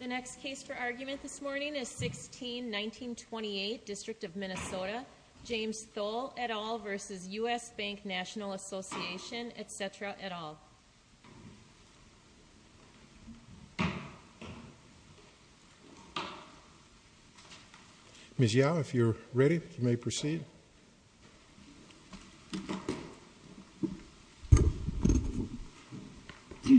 The next case for argument this morning is 16-1928, District of Minnesota, James Thole et al. v. U.S. Bank, National Association, etc. et al. Ms. Yao, if you're ready, you may proceed. Good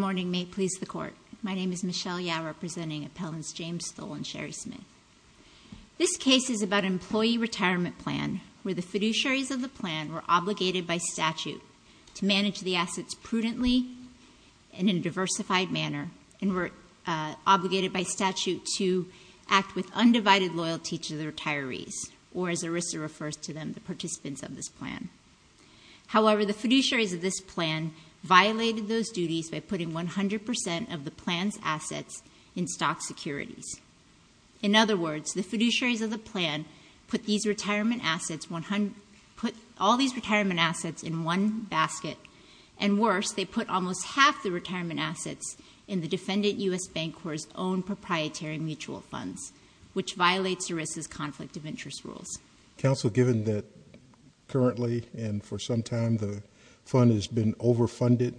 morning, may it please the Court. My name is Michelle Yao, representing Appellants James Thole and Sherry Smith. This case is about an employee retirement plan where the fiduciaries of the plan were prudently and in a diversified manner, and were obligated by statute to act with undivided loyalty to the retirees, or as ERISA refers to them, the participants of this plan. However, the fiduciaries of this plan violated those duties by putting 100% of the plan's assets in stock securities. In other words, the fiduciaries of the plan put all these retirement assets in one basket and worse, they put almost half the retirement assets in the defendant U.S. Bank Corp.'s own proprietary mutual funds, which violates ERISA's conflict of interest rules. Counsel, given that currently and for some time the fund has been overfunded,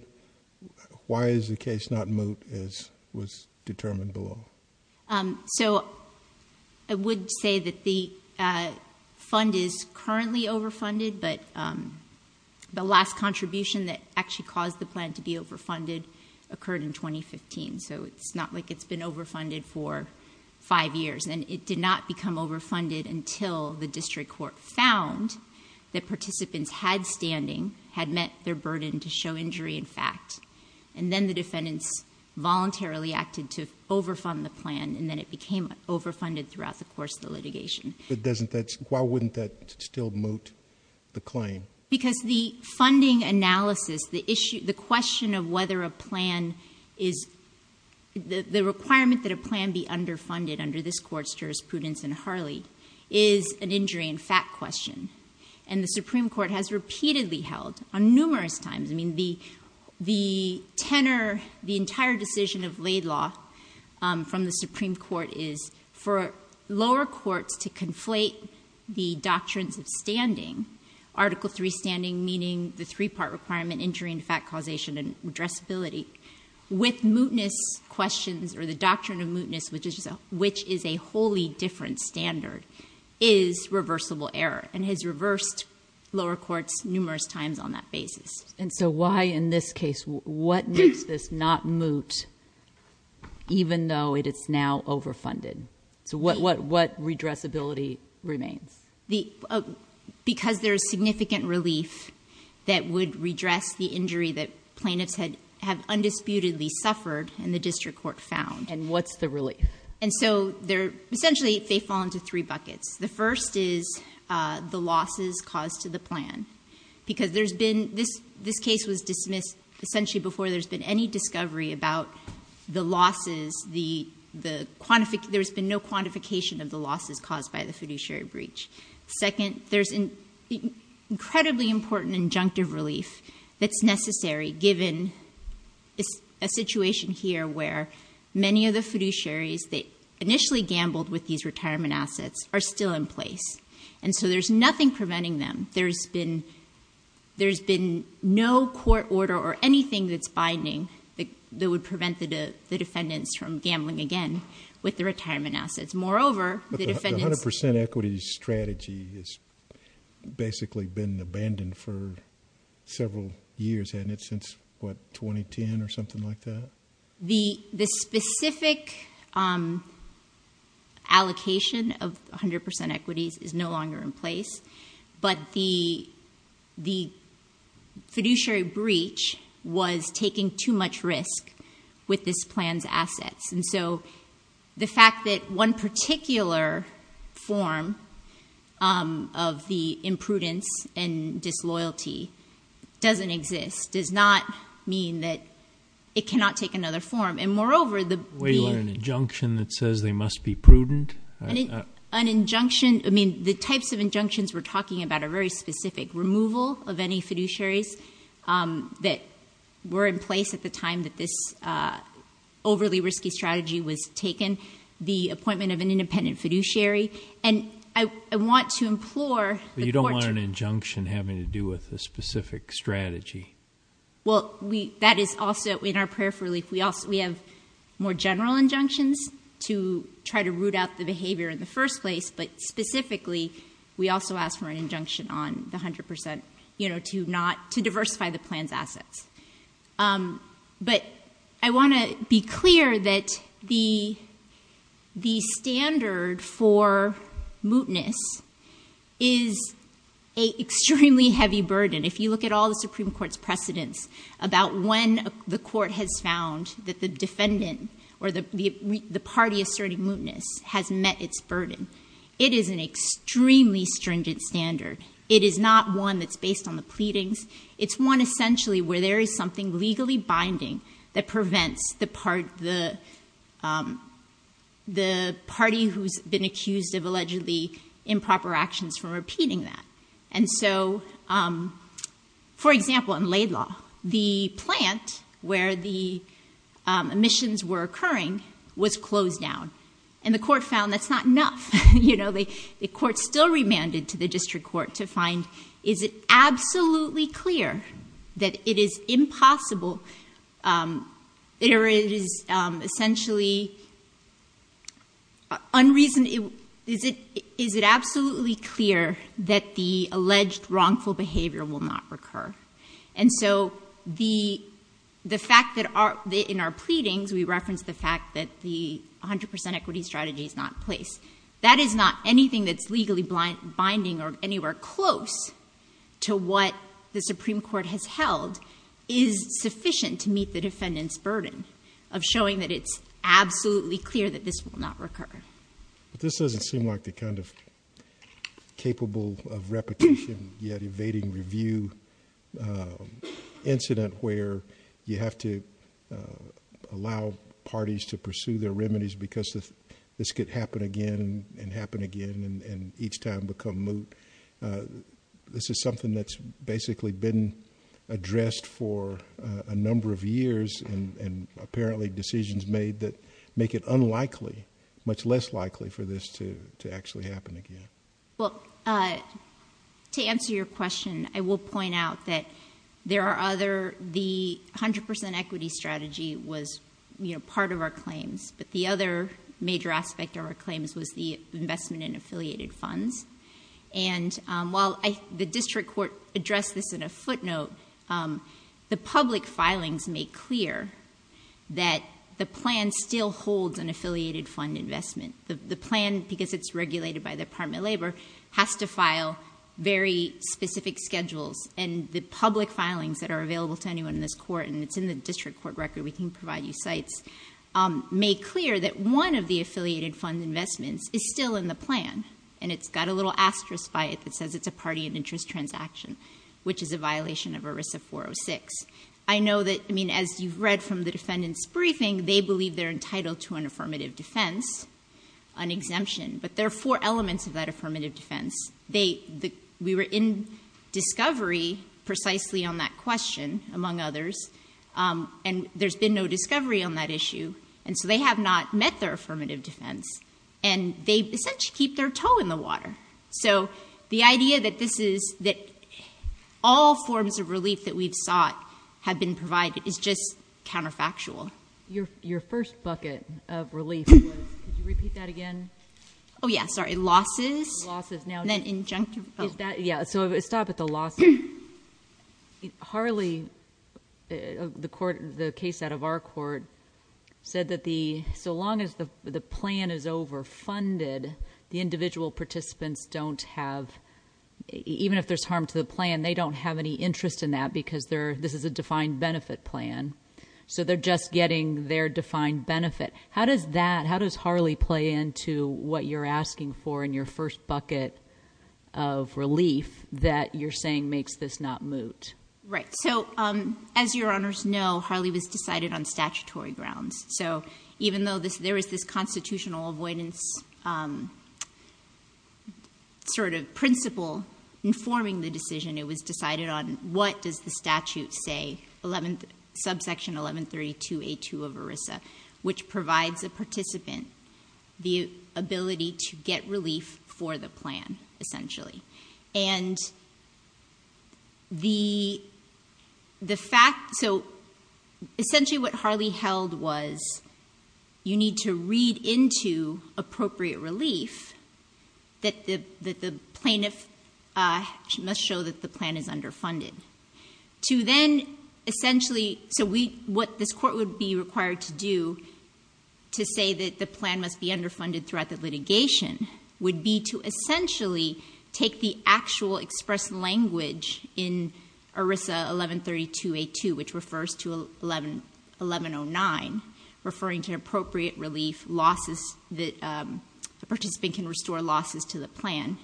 why is the case not moved as was determined below? So, I would say that the fund is currently overfunded, but the last contribution that actually caused the plan to be overfunded occurred in 2015, so it's not like it's been overfunded for five years. And it did not become overfunded until the district court found that participants had standing, had met their burden to show injury in fact, and then the defendants voluntarily acted to overfund the plan, and then it became overfunded throughout the course of the litigation. Why wouldn't that still moot the claim? Because the funding analysis, the question of whether a plan is, the requirement that a plan be underfunded under this court's jurisprudence in Harley is an injury in fact question, and the Supreme Court has repeatedly held on numerous times, I mean, the tenor, the entire decision of Laidlaw from the Supreme Court is for lower courts to conflate the doctrines of standing, Article III standing meaning the three-part requirement, injury in fact causation and addressability, with mootness questions or the doctrine of mootness, which is a wholly different standard, is reversible error, and has reversed lower courts numerous times on that basis. And so why in this case, what makes this not moot even though it is now overfunded? So what redressability remains? Because there is significant relief that would redress the injury that plaintiffs had, have undisputedly suffered and the district court found. And what's the relief? And so they're, essentially they fall into three buckets. The first is the losses caused to the plan. Because there's been, this case was dismissed essentially before there's been any discovery about the losses, there's been no quantification of the losses caused by the fiduciary breach. Second, there's incredibly important injunctive relief that's necessary given a situation here where many of the fiduciaries that initially gambled with these retirement assets are still in place. And so there's nothing preventing them. There's been no court order or anything that's binding that would prevent the defendants from gambling again with the retirement assets. Moreover, the defendants- But the 100% equity strategy has basically been abandoned for several years, hasn't it? Since what, 2010 or something like that? The specific allocation of 100% equities is no longer in place, but the fiduciary breach was taking too much risk with this plan's assets. And so the fact that one particular form of the imprudence and disloyalty doesn't exist does not mean that it cannot take another form. And moreover, the- Wait, you want an injunction that says they must be prudent? An injunction, I mean, the types of injunctions we're talking about are very specific. Removal of any fiduciaries that were in place at the time that this overly risky strategy was taken. The appointment of an independent fiduciary. And I want to implore the court to- Well, that is also in our prayer for relief. We have more general injunctions to try to root out the behavior in the first place, but specifically, we also ask for an injunction on the 100% to diversify the plan's assets. But I want to be clear that the standard for mootness is an extremely heavy burden. If you look at all the Supreme Court's precedents about when the court has found that the defendant or the party asserting mootness has met its burden, it is an extremely stringent standard. It is not one that's based on the pleadings. It's one essentially where there is something legally binding that prevents the party who's been accused of allegedly improper actions from repeating that. And so, for example, in Laidlaw, the plant where the omissions were occurring was closed down. And the court found that's not enough. The court still remanded to the district court to find, is it absolutely clear that it is impossible, it is essentially unreasonable, is it absolutely clear that the alleged wrongful behavior will not recur? And so, the fact that in our pleadings, we referenced the fact that the 100% equity strategy is not in place. That is not anything that's legally binding or anywhere close to what the Supreme Court has held. Is sufficient to meet the defendant's burden of showing that it's absolutely clear that this will not recur. But this doesn't seem like the kind of capable of repetition, yet evading review incident where you have to allow parties to pursue their remedies because this could happen again and happen again and each time become moot. This is something that's basically been addressed for a number of years and apparently decisions made that make it unlikely, much less likely for this to actually happen again. Well, to answer your question, I will point out that there are other, the 100% equity strategy was part of our claims. But the other major aspect of our claims was the investment in affiliated funds. And while the district court addressed this in a footnote, the public filings make clear that the plan still holds an affiliated fund investment. The plan, because it's regulated by the Department of Labor, has to file very specific schedules. And the public filings that are available to anyone in this court, and it's in the district court record, we can provide you sites. Make clear that one of the affiliated fund investments is still in the plan. And it's got a little asterisk by it that says it's a party and interest transaction, which is a violation of ERISA 406. I know that, I mean, as you've read from the defendant's briefing, they believe they're entitled to an affirmative defense, an exemption. But there are four elements of that affirmative defense. We were in discovery precisely on that question, among others. And there's been no discovery on that issue, and so they have not met their affirmative defense. And they essentially keep their toe in the water. So the idea that this is, that all forms of relief that we've sought have been provided is just counterfactual. Your first bucket of relief was, could you repeat that again? Yeah, sorry, losses, and then injunctive. Is that, yeah, so let's stop at the loss. Harley, the case out of our court, said that so long as the plan is overfunded, the individual participants don't have, even if there's harm to the plan, they don't have any interest in that because this is a defined benefit plan. So they're just getting their defined benefit. How does that, how does Harley play into what you're asking for in your first bucket of relief that you're saying makes this not moot? Right, so as your honors know, Harley was decided on statutory grounds. So even though there is this constitutional avoidance sort of principle informing the decision, it was decided on what does the statute say, subsection 1132A2 of ERISA, which provides a participant the ability to get relief for the plan, essentially. And the fact, so essentially what Harley held was, you need to read into appropriate relief that the plaintiff must show that the plan is underfunded. To then essentially, so what this court would be required to do to say that the plan must be underfunded throughout the litigation, would be to essentially take the actual expressed language in ERISA 1132A2, which refers to 1109, referring to appropriate relief losses that a participant can restore losses to the plan.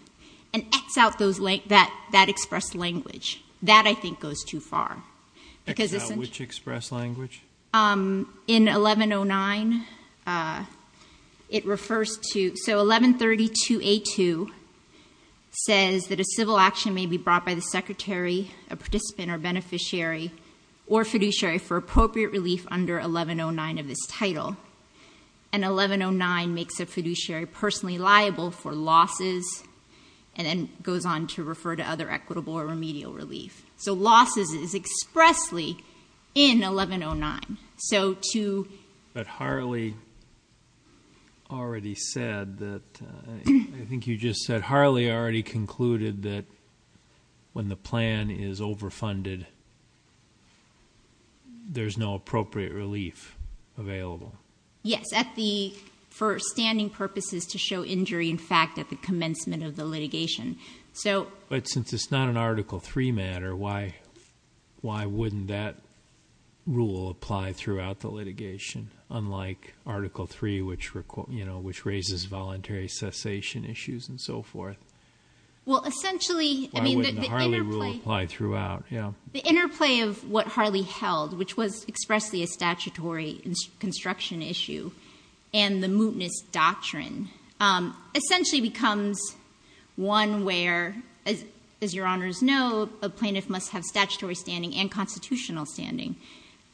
And X out that expressed language. That I think goes too far. Because this- Which expressed language? In 1109, it refers to, so 1132A2 says that a civil action may be brought by the secretary, a participant, or beneficiary, or fiduciary for appropriate relief under 1109 of this title. And 1109 makes a fiduciary personally liable for losses, and then goes on to refer to other equitable or remedial relief. So losses is expressly in 1109, so to- But Harley already said that, I think you just said, Harley already concluded that when the plan is overfunded, there's no appropriate relief available. Yes, for standing purposes to show injury in fact at the commencement of the litigation. So- But since it's not an Article III matter, why wouldn't that rule apply throughout the litigation? Unlike Article III, which raises voluntary cessation issues and so forth. Well essentially, I mean the interplay- The interplay of what Harley held, which was expressly a statutory construction issue, and the mootness doctrine, essentially becomes one where, as your honors know, a plaintiff must have statutory standing and constitutional standing.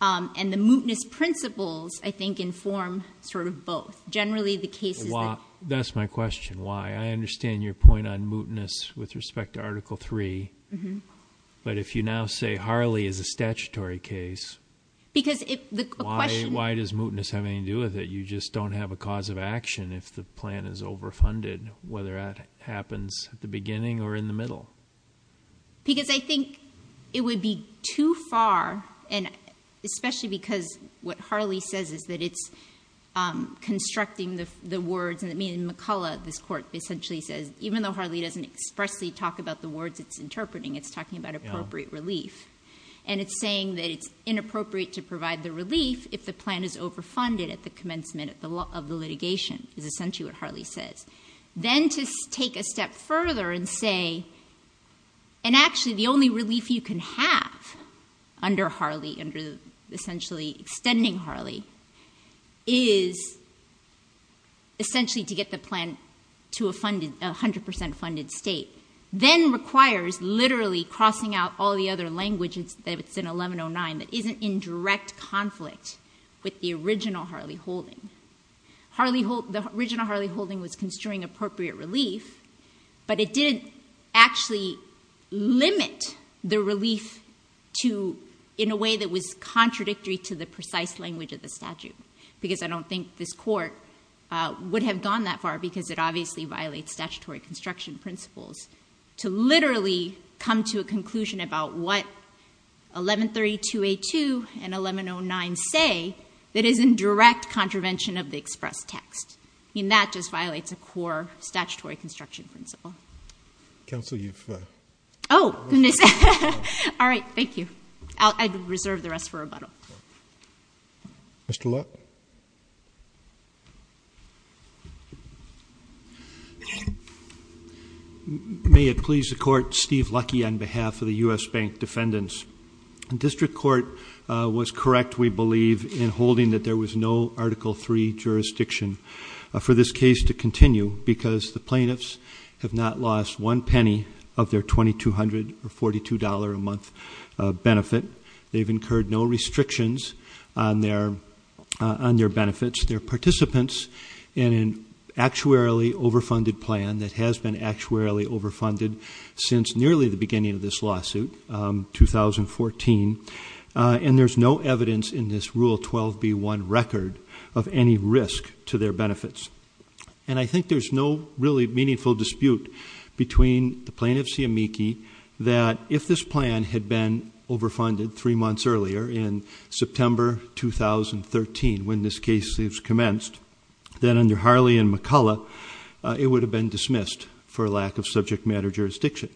And the mootness principles, I think, inform sort of both. Generally, the case is that- That's my question, why? I understand your point on mootness with respect to Article III, but if you now say Harley is a statutory case, why does mootness have anything to do with it? You just don't have a cause of action if the plan is overfunded, whether that happens at the beginning or in the middle. Because I think it would be too far, and especially because what Harley says is that it's constructing the words, and I mean McCullough, this court, essentially says, even though Harley doesn't expressly talk about the words it's interpreting, it's talking about appropriate relief. And it's saying that it's inappropriate to provide the relief if the plan is overfunded at the commencement of the litigation, is essentially what Harley says. Then to take a step further and say, and actually the only relief you can have under Harley, under essentially extending Harley, is essentially to get the plan to a 100% funded state. Then requires literally crossing out all the other languages that it's in 1109 that isn't in direct conflict with the original Harley-Holding. The original Harley-Holding was construing appropriate relief, but it didn't actually limit the relief to, in a way that was contradictory to the precise language of the statute. Because I don't think this court would have gone that far, because it obviously violates statutory construction principles, to literally come to a conclusion about what 1132A2 and 1109 say that is in direct contravention of the expressed text. I mean, that just violates a core statutory construction principle. Council, you've- Goodness. All right, thank you. I'll reserve the rest for rebuttal. Mr. Luck? May it please the court, Steve Lucky on behalf of the US Bank Defendants. The district court was correct, we believe, in holding that there was no Article III jurisdiction for this case to continue, because the plaintiffs have not lost one penny of their $2,242 a month benefit. They've incurred no restrictions on their benefits. They're participants in an actuarially overfunded plan that has been actuarially overfunded since nearly the beginning of this lawsuit, 2014. And there's no evidence in this Rule 12B1 record of any risk to their benefits. And I think there's no really meaningful dispute between the plaintiff's amici that if this plan had been overfunded three months earlier in September 2013 when this case has commenced. Then under Harley and McCullough, it would have been dismissed for lack of subject matter jurisdiction.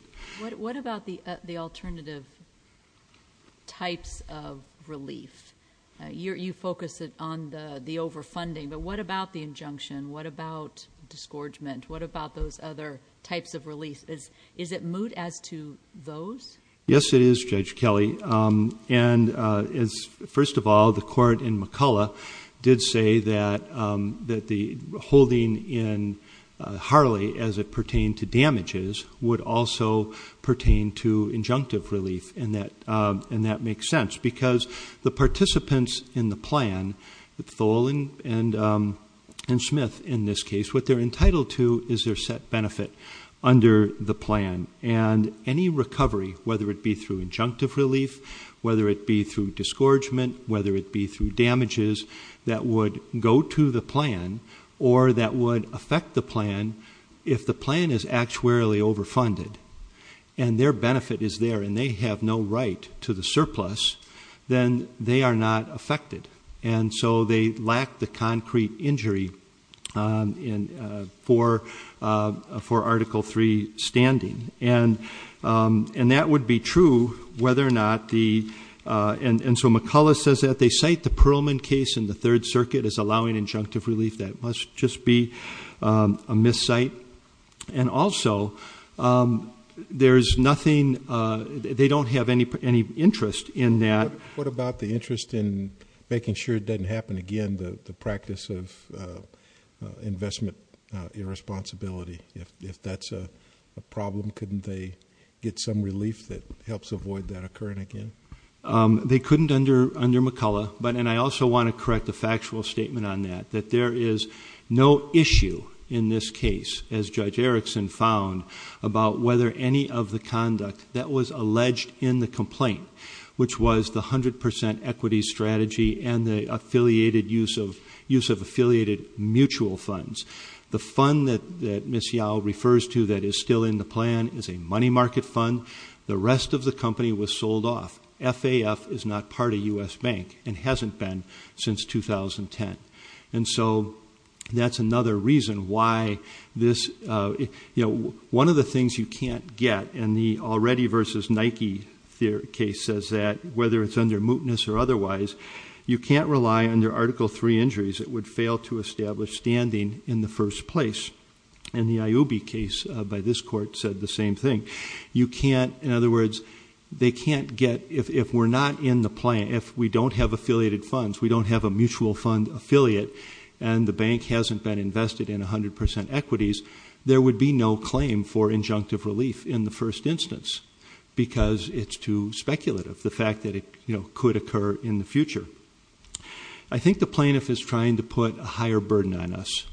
What about the alternative types of relief? You focus on the overfunding, but what about the injunction? What about disgorgement? What about those other types of relief? Is it moot as to those? Yes, it is, Judge Kelly. And first of all, the court in McCullough did say that the holding in Harley as it pertained to damages would also pertain to injunctive relief, and that makes sense. Because the participants in the plan, Tholen and Smith in this case, what they're entitled to is their set benefit under the plan. And any recovery, whether it be through injunctive relief, whether it be through disgorgement, whether it be through damages that would go to the plan, or that would affect the plan if the plan is actuarially overfunded. And their benefit is there, and they have no right to the surplus, then they are not affected. And so they lack the concrete injury for Article III standing, and that would be true whether or not the. And so McCullough says that they cite the Perlman case in the Third Circuit as allowing injunctive relief. That must just be a miscite. And also, there's nothing, they don't have any interest in that. What about the interest in making sure it doesn't happen again, the practice of investment irresponsibility? If that's a problem, couldn't they get some relief that helps avoid that occurring again? They couldn't under McCullough, and I also want to correct the factual statement on that, that there is no issue in this case, as Judge Erickson found, about whether any of the conduct that was alleged in the complaint, which was the 100% equity strategy and the use of affiliated mutual funds. The fund that Ms. Yao refers to that is still in the plan is a money market fund. The rest of the company was sold off. FAF is not part of US Bank and hasn't been since 2010. And so that's another reason why this, one of the things you can't get, and the already versus Nike case says that whether it's under mootness or in the first place, and the IUB case by this court said the same thing. You can't, in other words, they can't get, if we're not in the plan, if we don't have affiliated funds, we don't have a mutual fund affiliate, and the bank hasn't been invested in 100% equities, there would be no claim for injunctive relief in the first instance. Because it's too speculative, the fact that it could occur in the future. I think the plaintiff is trying to put a higher burden on us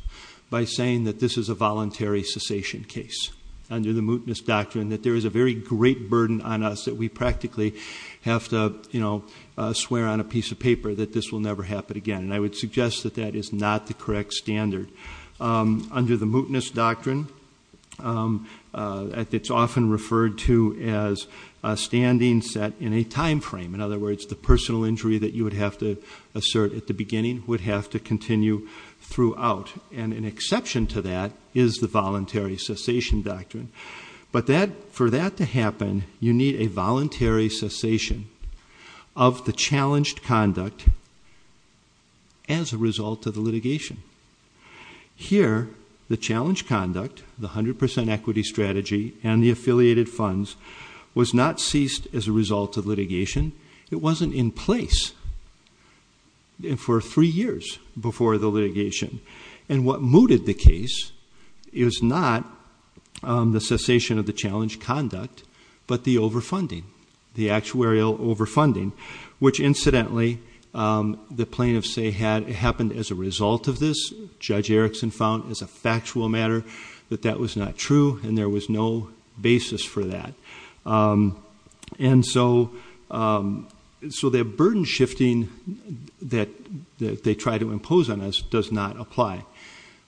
by saying that this is a voluntary cessation case. Under the mootness doctrine, that there is a very great burden on us that we practically have to swear on a piece of paper that this will never happen again, and I would suggest that that is not the correct standard. Under the mootness doctrine, it's often referred to as a standing set in a time frame. In other words, the personal injury that you would have to assert at the beginning would have to continue throughout. And an exception to that is the voluntary cessation doctrine. But for that to happen, you need a voluntary cessation of the challenged conduct as a result of the litigation. Here, the challenge conduct, the 100% equity strategy and the affiliated funds was not ceased as a result of litigation. It wasn't in place for three years before the litigation. And what mooted the case is not the cessation of the challenge conduct, but the overfunding, the actuarial overfunding. Which incidentally, the plaintiff say it happened as a result of this. Judge Erickson found as a factual matter that that was not true and there was no basis for that. And so the burden shifting that they try to impose on us does not apply.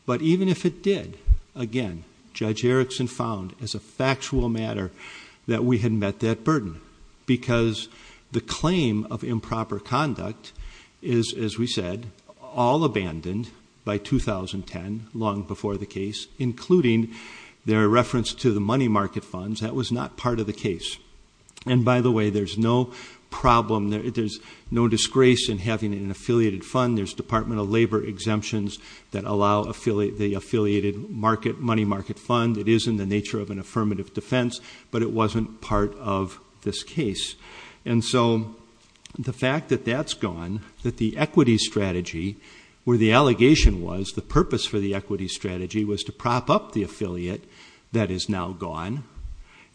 But even if it did, again, Judge Erickson found as a factual matter that we had met that burden. Because the claim of improper conduct is, as we said, all abandoned by 2010, long before the case, including their reference to the money market funds, that was not part of the case. And by the way, there's no problem, there's no disgrace in having an affiliated fund. There's departmental labor exemptions that allow the affiliated money market fund. It is in the nature of an affirmative defense, but it wasn't part of this case. And so the fact that that's gone, that the equity strategy, where the allegation was the purpose for the equity strategy was to prop up the affiliate, that is now gone,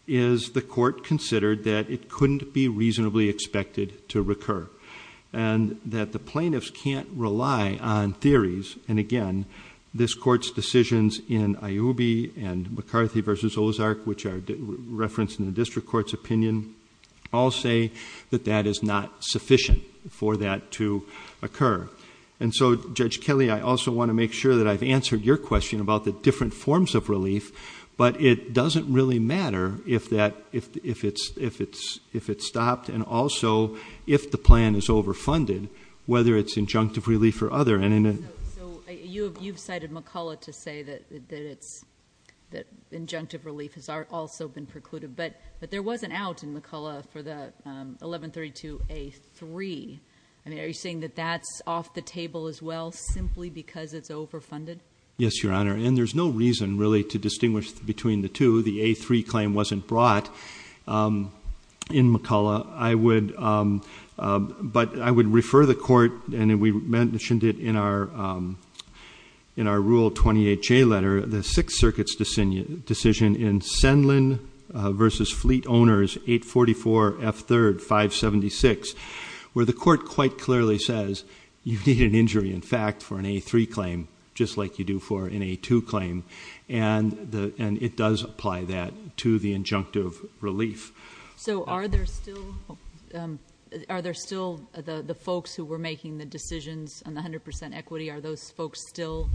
is the court considered that it couldn't be reasonably expected to recur. And that the plaintiffs can't rely on theories, and again, this court's decisions in Iubi and McCarthy versus Ozark, which are referenced in the district court's opinion, all say that that is not sufficient for that to occur. And so, Judge Kelly, I also want to make sure that I've answered your question about the different forms of relief. But it doesn't really matter if it's stopped and also if the plan is overfunded, whether it's injunctive relief or other. Is there anything? So, you've cited McCullough to say that injunctive relief has also been precluded. But there was an out in McCullough for the 1132A3. I mean, are you saying that that's off the table as well, simply because it's overfunded? Yes, Your Honor, and there's no reason really to distinguish between the two. The A3 claim wasn't brought in McCullough. I would, but I would refer the court, and we mentioned it in our rule 28J letter. The Sixth Circuit's decision in Sendlin versus Fleet Owners 844F3, 576. Where the court quite clearly says, you need an injury, in fact, for an A3 claim. Just like you do for an A2 claim, and it does apply that to the injunctive relief. So, are there still the folks who were making the decisions on the 100% equity? Are those folks still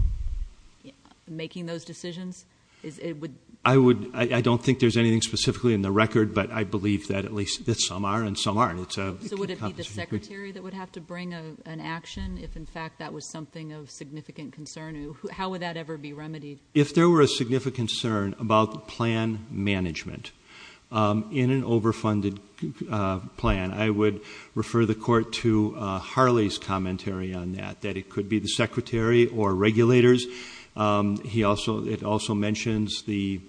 making those decisions? It would- I don't think there's anything specifically in the record, but I believe that at least some are and some aren't. It's a- So, would it be the secretary that would have to bring an action if, in fact, that was something of significant concern? How would that ever be remedied? If there were a significant concern about plan management in an overfunded plan, I would refer the court to Harley's commentary on that. That it could be the secretary or regulators, it also mentions the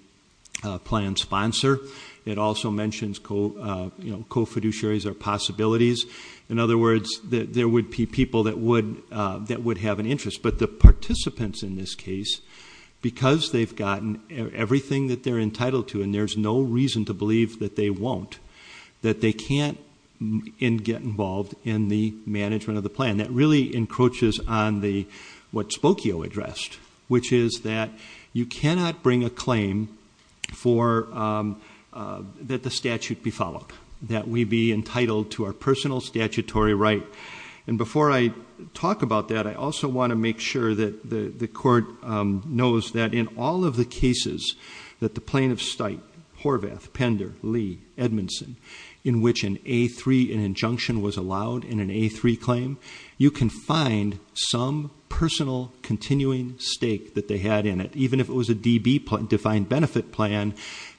plan sponsor. It also mentions co-fiduciaries or possibilities. In other words, there would be people that would have an interest. But the participants in this case, because they've gotten everything that they're entitled to and there's no reason to believe that they won't, that they can't get involved in the management of the plan. That really encroaches on what Spokio addressed, which is that you cannot bring a claim that the statute be followed. That we be entitled to our personal statutory right. And before I talk about that, I also want to make sure that the court knows that in all of the cases that the plaintiff's site, Horvath, Pender, Lee, Edmondson, in which an A3, an injunction was allowed in an A3 claim, you can find some personal continuing stake that they had in it. Even if it was a DB defined benefit plan,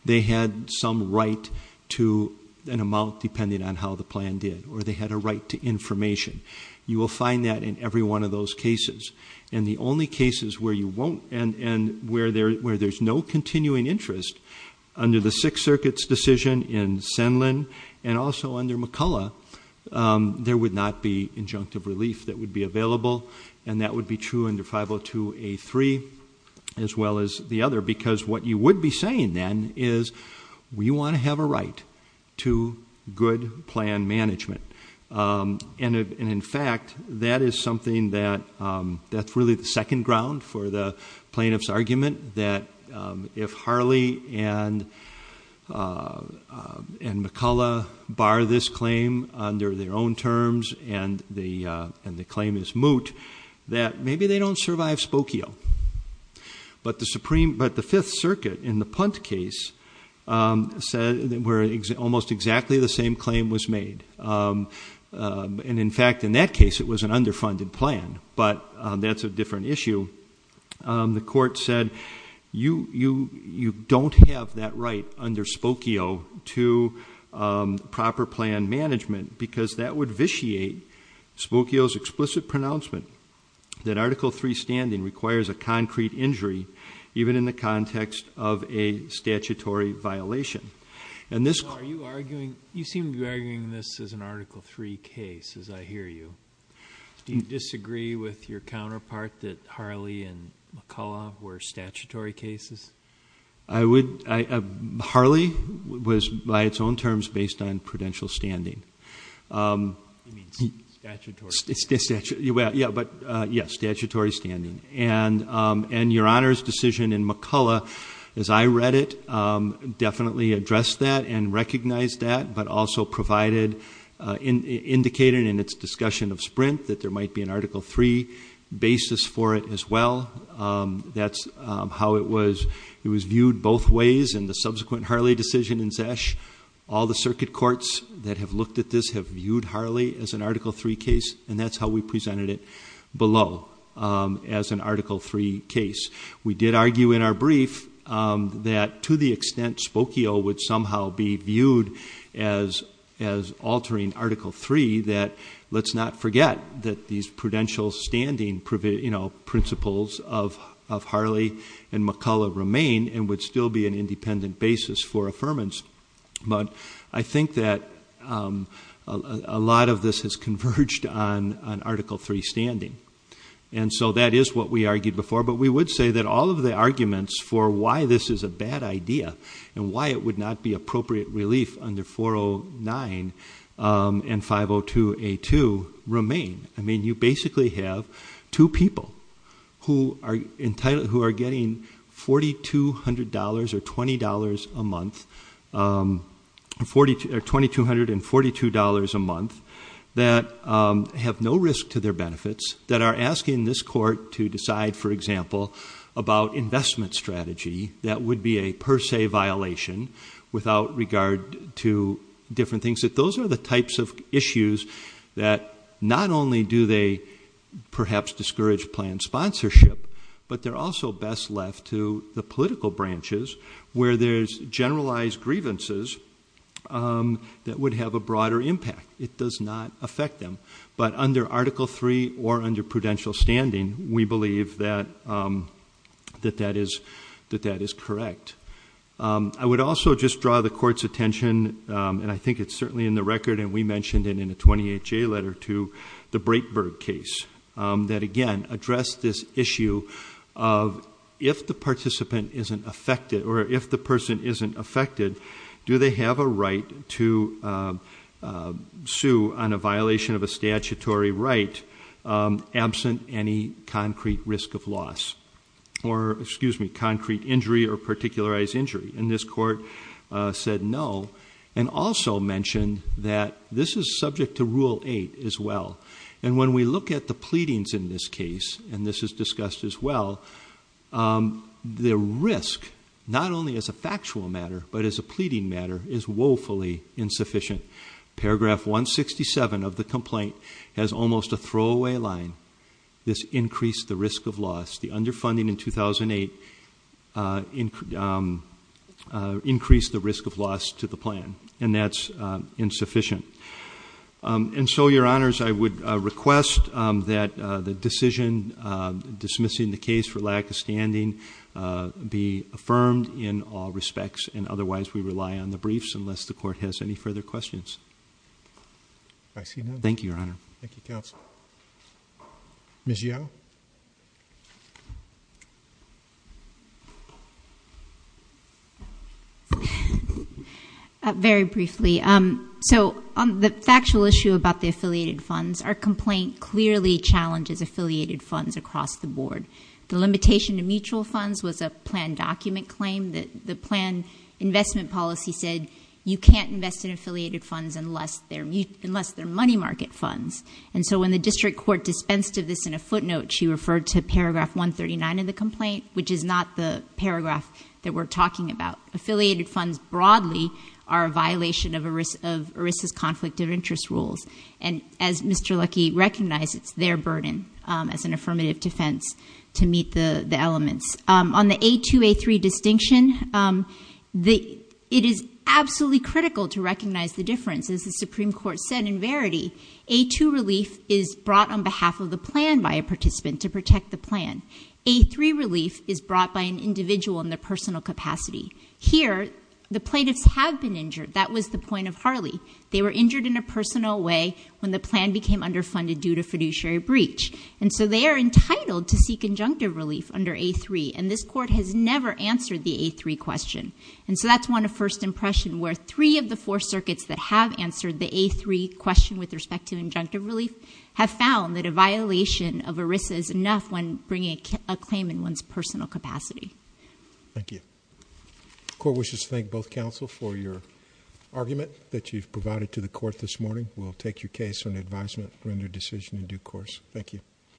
they had some right to an amount depending on how the plan did. Or they had a right to information. You will find that in every one of those cases. And the only cases where you won't, and where there's no continuing interest under the Sixth Circuit's decision in Senlin, and also under McCullough, there would not be injunctive relief that would be available. And that would be true under 502A3, as well as the other. Because what you would be saying then is, we want to have a right to good plan management. And in fact, that is something that's really the second ground for the plaintiff's argument that if Harley and McCullough bar this claim under their own terms, and the claim is moot, that maybe they don't survive Spokio. But the Fifth Circuit, in the Punt case, said that almost exactly the same claim was made. And in fact, in that case, it was an underfunded plan, but that's a different issue. The court said, you don't have that right under Spokio to proper plan management, because that would vitiate Spokio's explicit pronouncement that Article III standing requires a concrete injury, even in the context of a statutory violation. And this- Are you arguing, you seem to be arguing this as an Article III case, as I hear you. Do you disagree with your counterpart that Harley and McCullough were statutory cases? I would, Harley was by its own terms based on prudential standing. You mean statutory? Yeah, but yes, statutory standing. And your Honor's decision in McCullough, as I read it, definitely addressed that and recognized that, but also provided, indicated in its discussion of Sprint, that there might be an Article III basis for it as well. That's how it was viewed both ways in the subsequent Harley decision in Zesch. All the circuit courts that have looked at this have viewed Harley as an Article III case, and that's how we presented it below, as an Article III case. We did argue in our brief that to the extent Spokio would somehow be viewed as altering Article III, that let's not forget that these prudential standing principles of Harley and McCullough remain and would still be an independent basis for affirmance. But I think that a lot of this has converged on Article III standing. And so that is what we argued before, but we would say that all of the arguments for why this is a bad idea and why it would not be appropriate relief under 409 and 502A2 remain. I mean, you basically have two people who are entitled, let's say, to obtain $4,200 or $20 a month, or $2,242 a month, that have no risk to their benefits. That are asking this court to decide, for example, about investment strategy, that would be a per se violation without regard to different things. That those are the types of issues that not only do they perhaps discourage planned sponsorship, but they're also best left to the political branches where there's generalized grievances that would have a broader impact, it does not affect them. But under Article III or under prudential standing, we believe that that is correct. I would also just draw the court's attention, and I think it's certainly in the record and we mentioned it in a 28-J letter to the Breitberg case, that again, address this issue of if the participant isn't affected or if the person isn't affected, do they have a right to sue on a violation of a statutory right absent any concrete risk of loss. Or excuse me, concrete injury or particularized injury. And this court said no, and also mentioned that this is subject to Rule 8 as well. And when we look at the pleadings in this case, and this is discussed as well, the risk, not only as a factual matter, but as a pleading matter, is woefully insufficient. Paragraph 167 of the complaint has almost a throwaway line. This increased the risk of loss. The underfunding in 2008 increased the risk of loss to the plan, and that's insufficient. And so, your honors, I would request that the decision dismissing the case for lack of standing be affirmed in all respects. And otherwise, we rely on the briefs, unless the court has any further questions. I see none. Thank you, your honor. Thank you, counsel. Ms. Yeo? Very briefly, so on the factual issue about the affiliated funds, our complaint clearly challenges affiliated funds across the board. The limitation to mutual funds was a planned document claim. The planned investment policy said, you can't invest in affiliated funds unless they're money market funds. And so, when the district court dispensed of this in a footnote, she referred to paragraph 139 of the complaint, which is not the paragraph that we're talking about. Affiliated funds broadly are a violation of ERISA's conflict of interest rules. And as Mr. Luckey recognized, it's their burden as an affirmative defense to meet the elements. On the A2, A3 distinction, it is absolutely critical to recognize the difference. As the Supreme Court said in verity, A2 relief is brought on behalf of the plan by a participant to protect the plan. A3 relief is brought by an individual in their personal capacity. Here, the plaintiffs have been injured. That was the point of Harley. They were injured in a personal way when the plan became underfunded due to fiduciary breach. And so they are entitled to seek injunctive relief under A3, and this court has never answered the A3 question. And so that's one of first impression where three of the four circuits that have answered the A3 question with respect to injunctive relief have found that a violation of ERISA is enough when bringing a claim in one's personal capacity. Thank you. Court wishes to thank both counsel for your argument that you've provided to the court this morning. We'll take your case on advisement, render decision in due course. Thank you.